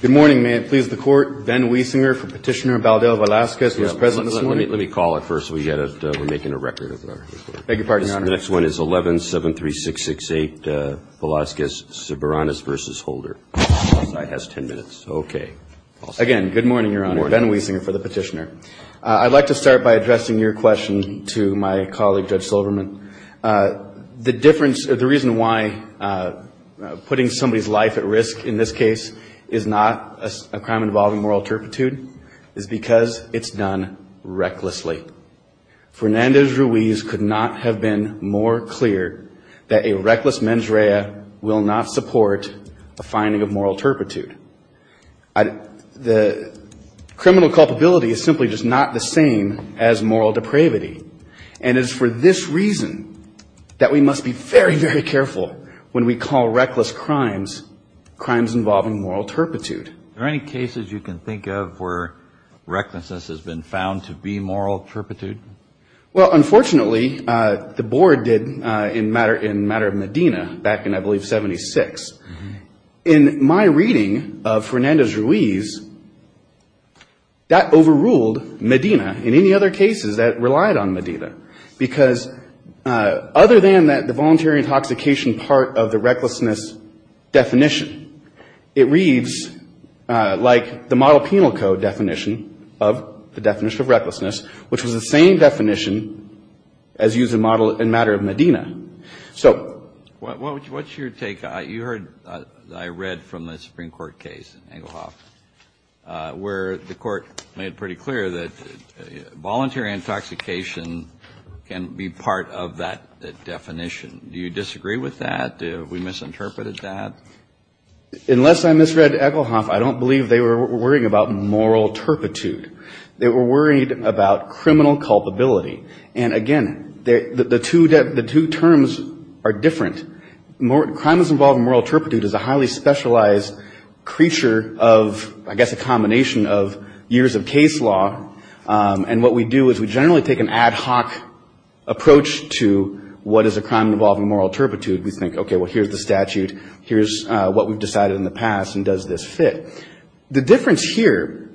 Good morning. May it please the Court. Ben Wiesinger for Petitioner, Baudel Velazquez, who is present this morning. Let me call it first. We're making a record of our report. Beg your pardon, Your Honor. The next one is 11-73668, Velazquez-Soberanes v. Holder. I have ten minutes. Okay. Again, good morning, Your Honor. Ben Wiesinger for the Petitioner. I'd like to start by addressing your question to my colleague, Judge Silverman. The reason why putting somebody's life at risk in this case is not a crime involving moral turpitude is because it's done recklessly. Fernandez-Ruiz could not have been more clear that a reckless mens rea will not support a finding of moral turpitude. The criminal culpability is simply just not the same as moral depravity. And it's for this reason that we must be very, very careful when we call reckless crimes crimes involving moral turpitude. Are there any cases you can think of where recklessness has been found to be moral turpitude? Well, unfortunately, the Board did in the matter of Medina back in, I believe, 76. In my reading of Fernandez-Ruiz, that overruled Medina in any other cases that relied on Medina. Because other than that, the voluntary intoxication part of the recklessness definition, it reads like the model penal code definition of the definition of recklessness, which was the same definition as used in the matter of Medina. So what's your take? You heard, I read from the Supreme Court case, Engelhoff, where the Court made pretty clear that voluntary intoxication can be part of that definition. Do you disagree with that? Have we misinterpreted that? Unless I misread Engelhoff, I don't believe they were worrying about moral turpitude. They were worried about criminal culpability. And, again, the two terms are different. Crime that's involved in moral turpitude is a highly specialized creature of, I guess, a combination of years of case law. And what we do is we generally take an ad hoc approach to what is a crime involving moral turpitude. We think, okay, well, here's the statute, here's what we've decided in the past, and does this fit? The difference here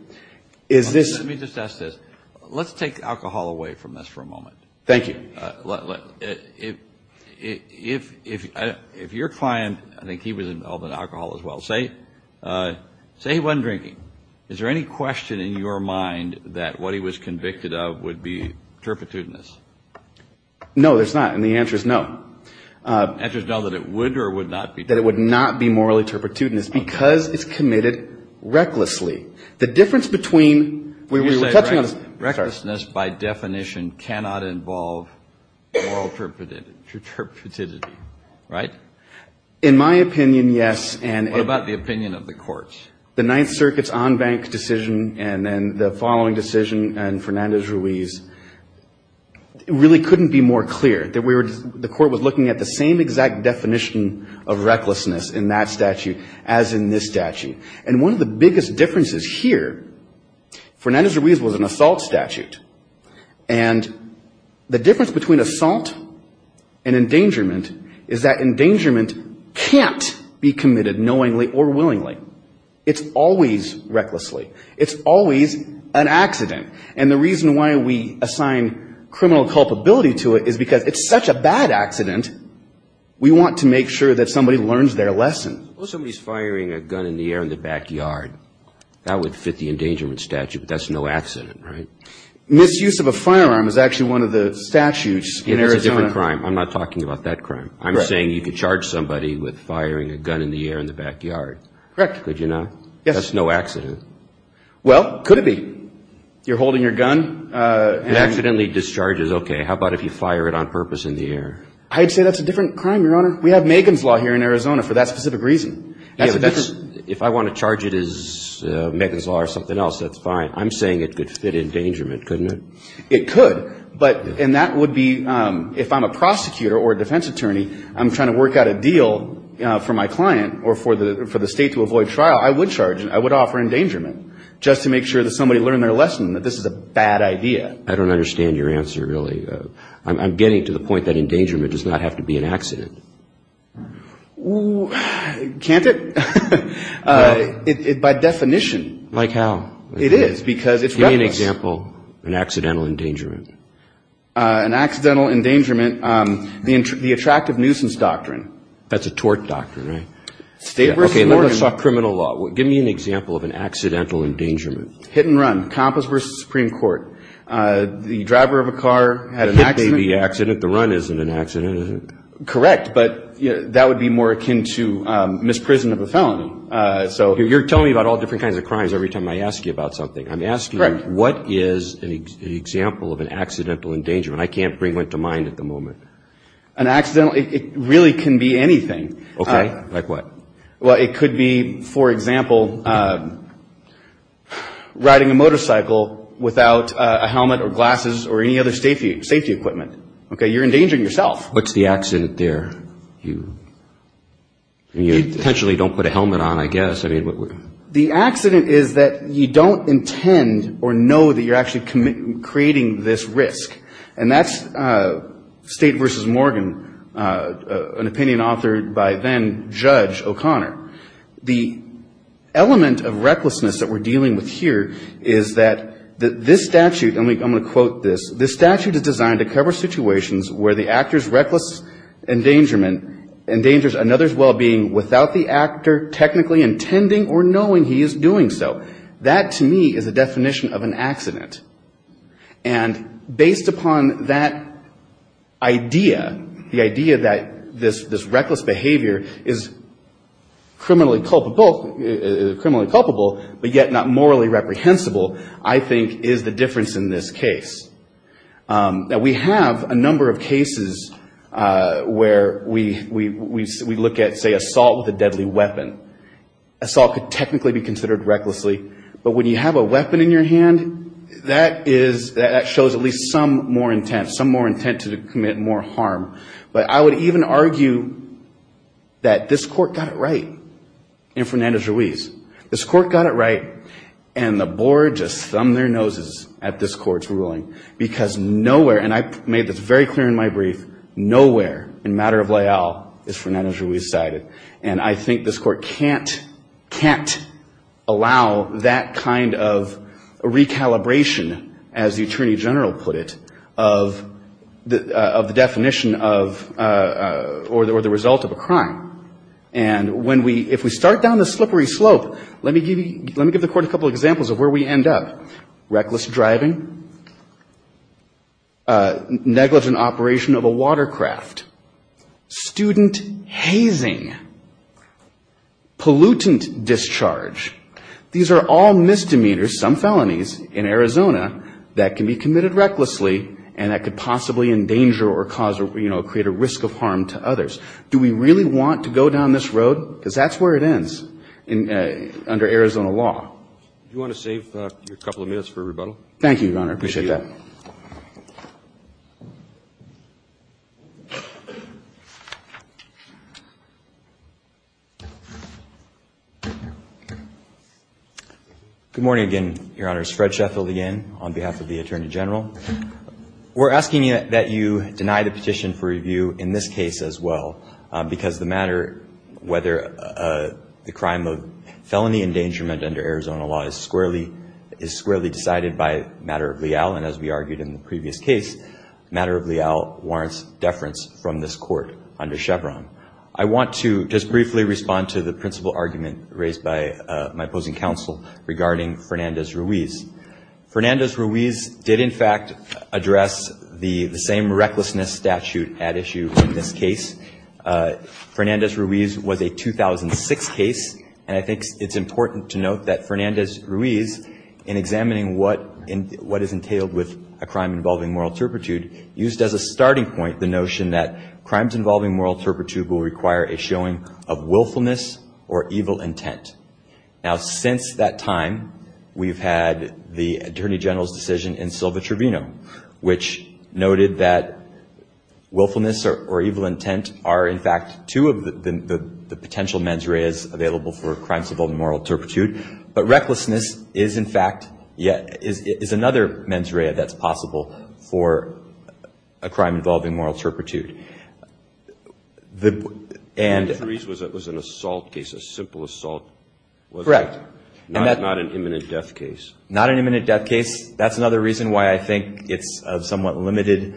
is this. Let me just ask this. Let's take alcohol away from this for a moment. Thank you. If your client, I think he was involved in alcohol as well. Say he wasn't drinking. Is there any question in your mind that what he was convicted of would be turpitudinous? No, there's not, and the answer is no. The answer is no, that it would or would not be? That it would not be morally turpitudinous because it's committed recklessly. The difference between we were touching on this. Recklessness by definition cannot involve moral turpidity, right? In my opinion, yes. What about the opinion of the courts? The Ninth Circuit's on-bank decision and then the following decision and Fernandez-Ruiz, it really couldn't be more clear. The court was looking at the same exact definition of recklessness in that statute as in this statute. And one of the biggest differences here, Fernandez-Ruiz was an assault statute. And the difference between assault and endangerment is that endangerment can't be committed knowingly or willingly. It's always recklessly. It's always an accident. And the reason why we assign criminal culpability to it is because it's such a bad accident, we want to make sure that somebody learns their lesson. Suppose somebody's firing a gun in the air in the backyard. That would fit the endangerment statute, but that's no accident, right? Misuse of a firearm is actually one of the statutes in Arizona. It is a different crime. I'm not talking about that crime. I'm saying you could charge somebody with firing a gun in the air in the backyard. Correct. Could you not? Yes. That's no accident. Well, could it be? You're holding your gun. It accidentally discharges, okay. How about if you fire it on purpose in the air? I'd say that's a different crime, Your Honor. We have Megan's Law here in Arizona for that specific reason. If I want to charge it as Megan's Law or something else, that's fine. I'm saying it could fit endangerment, couldn't it? It could. And that would be if I'm a prosecutor or a defense attorney, I'm trying to work out a deal for my client or for the state to avoid trial, I would charge it. I would offer endangerment just to make sure that somebody learned their lesson that this is a bad idea. I don't understand your answer, really. I'm getting to the point that endangerment does not have to be an accident. Can't it? No. By definition. Like how? It is because it's reckless. Give me an example of an accidental endangerment. An accidental endangerment, the attractive nuisance doctrine. That's a tort doctrine, right? State versus Oregon. Okay, let me start criminal law. Give me an example of an accidental endangerment. Hit and run. Compass versus Supreme Court. The driver of a car had an accident. Hit baby accident. The run isn't an accident, is it? Correct. But that would be more akin to misprison of a felony. You're telling me about all different kinds of crimes every time I ask you about something. I'm asking what is an example of an accidental endangerment. I can't bring one to mind at the moment. An accidental, it really can be anything. Okay. Like what? Well, it could be, for example, riding a motorcycle without a helmet or glasses or any other safety equipment. Okay? You're endangering yourself. What's the accident there? You potentially don't put a helmet on, I guess. The accident is that you don't intend or know that you're actually creating this risk. And that's State versus Morgan, an opinion authored by then-Judge O'Connor. The element of recklessness that we're dealing with here is that this statute, and I'm going to quote this, this statute is designed to cover situations where the actor's reckless endangerment endangers another's well-being without the actor technically intending or knowing he is doing so. That, to me, is a definition of an accident. And based upon that idea, the idea that this reckless behavior is criminally culpable, but yet not morally reprehensible, I think is the difference in this case. Now, we have a number of cases where we look at, say, assault with a deadly weapon. Assault could technically be considered recklessly, but when you have a weapon in your hand, that is, that shows at least some more intent, some more intent to commit more harm. But I would even argue that this Court got it right in Fernandez-Ruiz. This Court got it right, and the board just thumbed their noses at this Court's ruling. Because nowhere, and I made this very clear in my brief, nowhere in matter of layout is Fernandez-Ruiz cited. And I think this Court can't allow that kind of recalibration, as the attorney general put it, of the definition of, or the result of a crime. And when we, if we start down the slippery slope, let me give the Court a couple of examples of where we end up. Reckless driving, negligent operation of a watercraft, student hazing, pollutant discharge, these are all misdemeanors, some felonies, in Arizona that can be committed recklessly and that could possibly endanger or cause, you know, create a risk of harm to others. Do we really want to go down this road? Because that's where it ends under Arizona law. Do you want to save your couple of minutes for rebuttal? Thank you, Your Honor. I appreciate that. Good morning again, Your Honor. It's Fred Sheffield again, on behalf of the attorney general. We're asking that you deny the petition for review in this case as well, because the matter, whether the crime of felony endangerment under Arizona law is squarely decided by matter of leal, and as we argued in the previous case, matter of leal warrants deference from this Court under Chevron. I want to just briefly respond to the principle argument raised by my opposing counsel regarding Fernandez-Ruiz. Fernandez-Ruiz did, in fact, address the same recklessness statute at issue in this case. Fernandez-Ruiz was a 2006 case, and I think it's important to note that Fernandez-Ruiz, in examining what is entailed with a crime involving moral turpitude, used as a starting point the notion that crimes involving moral turpitude will require a showing of willfulness or evil intent. Now, since that time, we've had the attorney general's decision in Silva Tribunal, which noted that willfulness or evil intent are, in fact, two of the potential mens reas available for crimes involving moral turpitude. But recklessness is, in fact, yet another mens rea that's possible for a crime involving moral turpitude. And the reason was that it was an assault case, a simple assault. Correct. Not an imminent death case. Not an imminent death case. That's another reason why I think it's of somewhat limited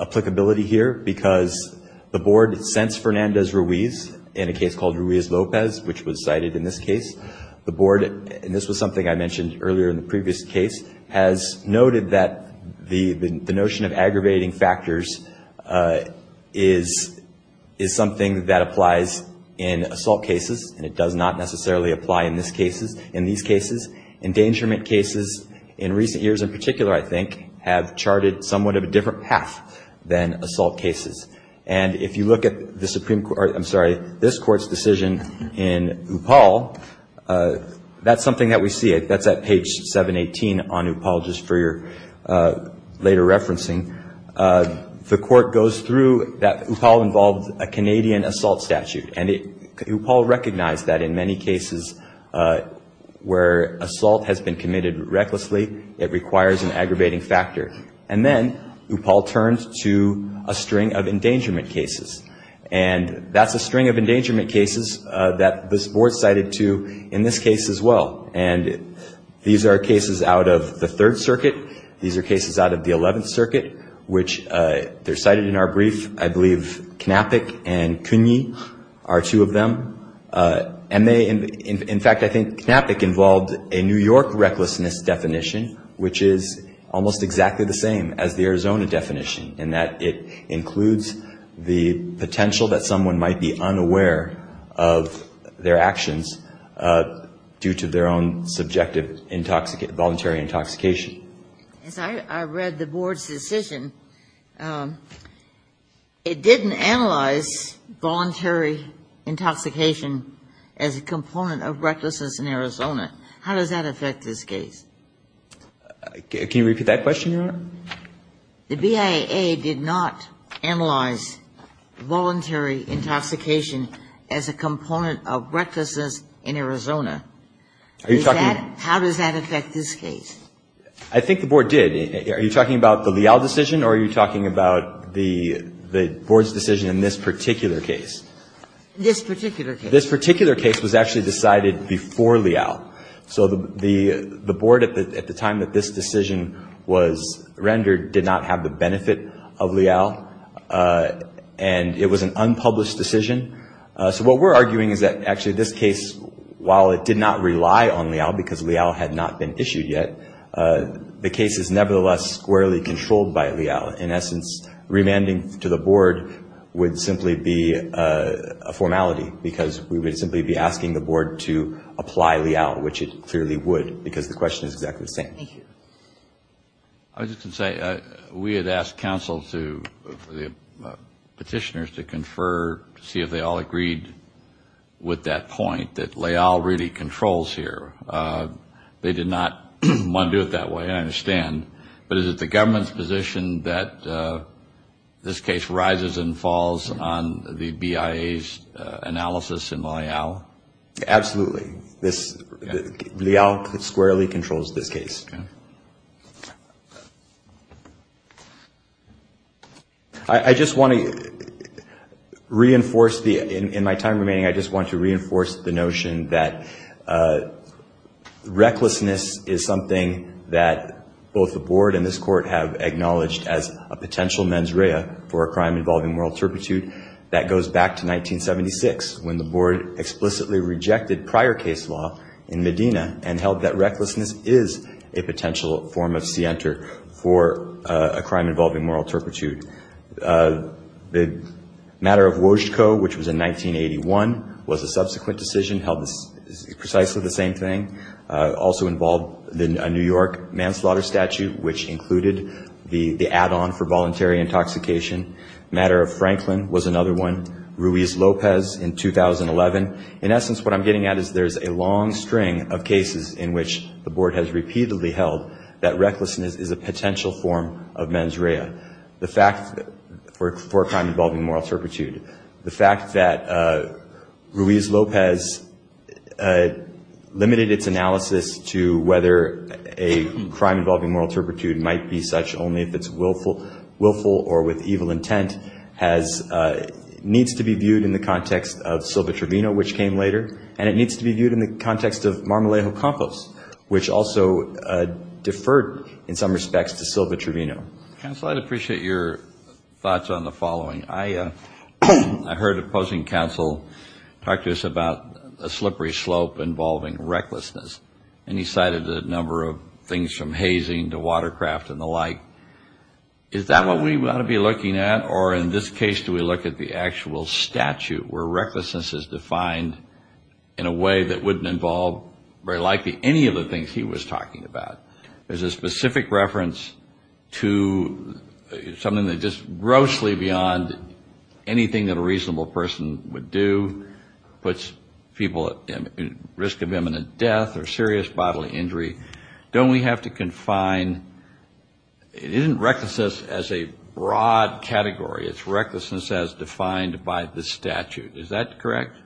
applicability here, because the board sensed Fernandez-Ruiz in a case called Ruiz-Lopez, which was cited in this case. The board, and this was something I mentioned earlier in the previous case, has noted that the notion of aggravating factors is something that applies in assault cases, and it does not necessarily apply in these cases. Endangerment cases, in recent years in particular, I think, have charted somewhat of a different path than assault cases. And if you look at the Supreme Court or, I'm sorry, this Court's decision in Upal, the Supreme Court's decision in Upal that's something that we see. That's at page 718 on Upal, just for your later referencing. The Court goes through that Upal involved a Canadian assault statute. And Upal recognized that in many cases where assault has been committed recklessly, it requires an aggravating factor. And then Upal turned to a string of endangerment cases. And that's a string of endangerment cases that this board cited to in this case as well. And these are cases out of the Third Circuit. These are cases out of the Eleventh Circuit, which they're cited in our brief. I believe Knapik and Cooney are two of them. And they, in fact, I think Knapik involved a New York recklessness definition, which is almost exactly the same as the potential that someone might be unaware of their actions due to their own subjective voluntary intoxication. As I read the board's decision, it didn't analyze voluntary intoxication as a component of recklessness in Arizona. How does that affect this case? Can you repeat that question, Your Honor? The BIA did not analyze voluntary intoxication as a component of recklessness in Arizona. How does that affect this case? I think the board did. Are you talking about the Leal decision or are you talking about the board's decision in this particular case? This particular case. This particular case was actually decided before Leal. So the board at the time that this decision was rendered did not have the benefit of Leal, and it was an unpublished decision. So what we're arguing is that actually this case, while it did not rely on Leal because Leal had not been issued yet, the case is nevertheless squarely controlled by Leal. In essence, remanding to the board would simply be a formality, because we would simply be asking the board to apply Leal, which it clearly would, because the question is exactly the same. I was just going to say, we had asked counsel to, petitioners to confer, to see if they all agreed with that point, that Leal really controls here. They did not want to do it that way, I understand. But is it the government's position that this case rises and falls on the BIA's analysis in Leal? Absolutely. Leal squarely controls this case. I just want to reinforce, in my time remaining, I just want to reinforce the notion that both the board and this court have acknowledged as a potential mens rea for a crime involving moral turpitude. That goes back to 1976, when the board explicitly rejected prior case law in Medina, and held that recklessness is a potential form of scienter for a crime involving moral turpitude. The matter of Wojtko, which was in 1981, was a subsequent decision, held precisely the same thing. Also involved a New York manslaughter statute, which included the add-on for voluntary intoxication. Matter of Franklin was another one. Ruiz Lopez in 2011. In essence, what I'm getting at is there's a long string of cases in which the board has repeatedly held that recklessness is a potential form of mens rea for a crime involving moral turpitude. The fact that Ruiz Lopez limited its analysis to whether a crime involving moral turpitude might be such, only if it's willful or with evil intent, needs to be viewed in the context of Silva Trevino, which came later. And it needs to be viewed in the context of Marmolejo Campos, which also deferred in some respects to Silva Trevino. Counsel, I'd appreciate your thoughts on the following. I heard a opposing counsel talk to us about a slippery slope involving recklessness. And he cited a number of things from hazing to watercraft and the like. Is that what we ought to be looking at? Or in this case, do we look at the actual statute where recklessness is defined in a way that wouldn't involve very likely any of the things he was talking about? There's a specific reference to something that's just grossly beyond anything that a reasonable person would do, puts people at risk of imminent death or serious bodily injury. Don't we have to confine? It isn't recklessness as a broad category. It's recklessness as defined by the statute. Is that correct?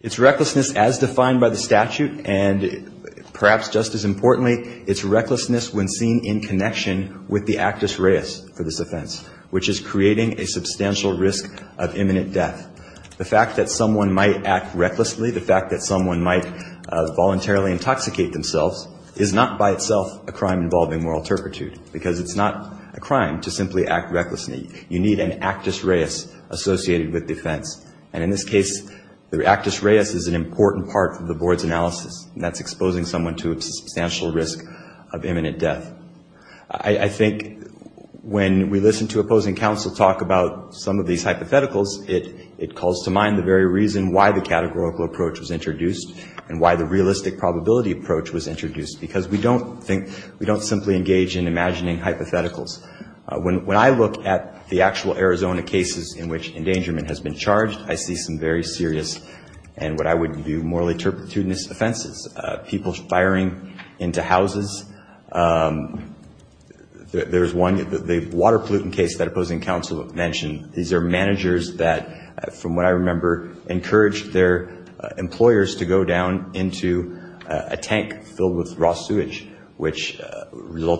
It's recklessness as defined by the statute. And perhaps just as importantly, it's recklessness when seen in connection with the actus reus for this offense, which is creating a substantial risk of imminent death. The fact that someone might act recklessly, the fact that someone might voluntarily intoxicate themselves, is not by itself a crime involving moral turpitude, because it's not a crime to simply act recklessly. You need an actus reus associated with the offense. And in this case, the actus reus is an important part of the board's analysis, and that's exposing someone to a substantial risk of imminent death. I think when we listen to opposing counsel talk about some of these hypotheticals, it calls to mind the very reason why the categorical approach was introduced and why the realistic probability approach was introduced, because we don't simply engage in imagining hypotheticals. When I look at the actual Arizona cases in which endangerment has been charged, I see some very serious, and what I would view morally turpitudinous offenses, people firing into houses. There's one, the water pollutant case that opposing counsel mentioned. These are managers that, from what I remember, encouraged their employers to go down into a tank filled with raw water pollutants, and they were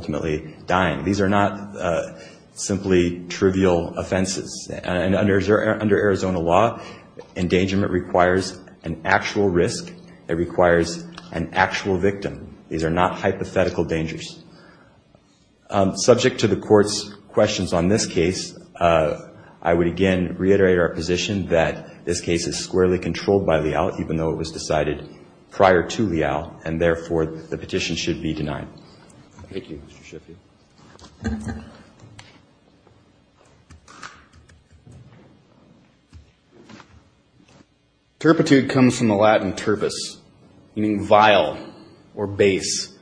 actually dying. These are not simply trivial offenses. Under Arizona law, endangerment requires an actual risk. It requires an actual victim. These are not hypothetical dangers. Subject to the Court's questions on this case, I would again reiterate our position that this case is squarely controlled by Leal, even though it was decided prior to Leal, and therefore the petition should be denied. Thank you, Mr. Sheffield. Turpitude comes from the Latin turpus, meaning vile or base.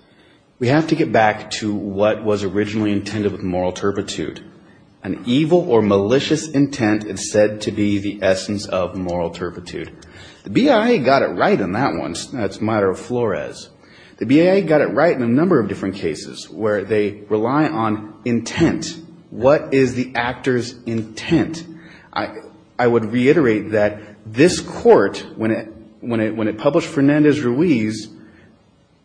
We have to get back to what was originally intended with moral turpitude. An evil or malicious intent is said to be the essence of moral turpitude. The BIA got it right on that one. It's a matter of Flores. The BIA got it right in a number of different cases where they rely on intent. What is the actor's intent? I would reiterate that this Court, when it published Fernandez-Ruiz,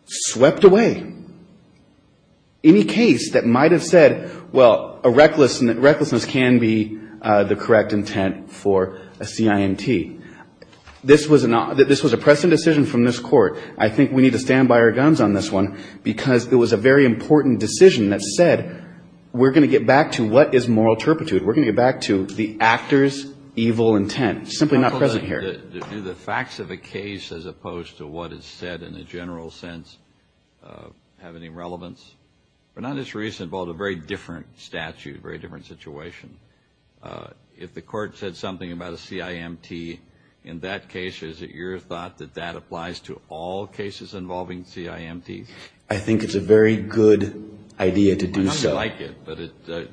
swept away any case that might have said, well, a recklessness can be the correct intent for a CIMT. This was a present decision from this Court. I think we need to stand by our guns on this one, because it was a very important decision that said, we're going to get back to what is moral turpitude. We're going to get back to the actor's evil intent. It's simply not present here. Do the facts of a case as opposed to what is said in a general sense have any relevance? Fernandez-Ruiz involved a very different statute, a very different situation. If the Court said something about a CIMT, in that case, is it your thought that that applies to all cases involving CIMTs? I think it's a very good idea to do so. I don't like it, but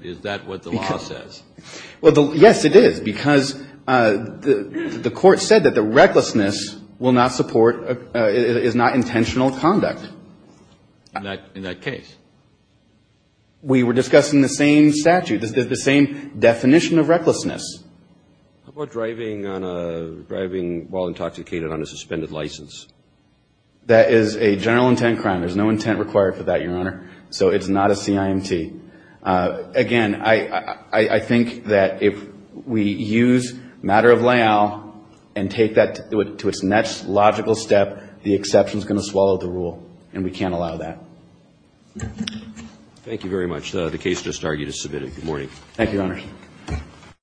is that what the law says? Well, yes, it is, because the Court said that the recklessness will not support, is not intentional conduct. In that case? We were discussing the same statute, the same definition of recklessness. How about driving while intoxicated on a suspended license? That is a general intent crime. There's no intent required for that, Your Honor, so it's not a CIMT. Again, I think that if we use matter of layout and take that to its next logical step, the exception is going to swallow the rule, and we can't allow that. Thank you very much.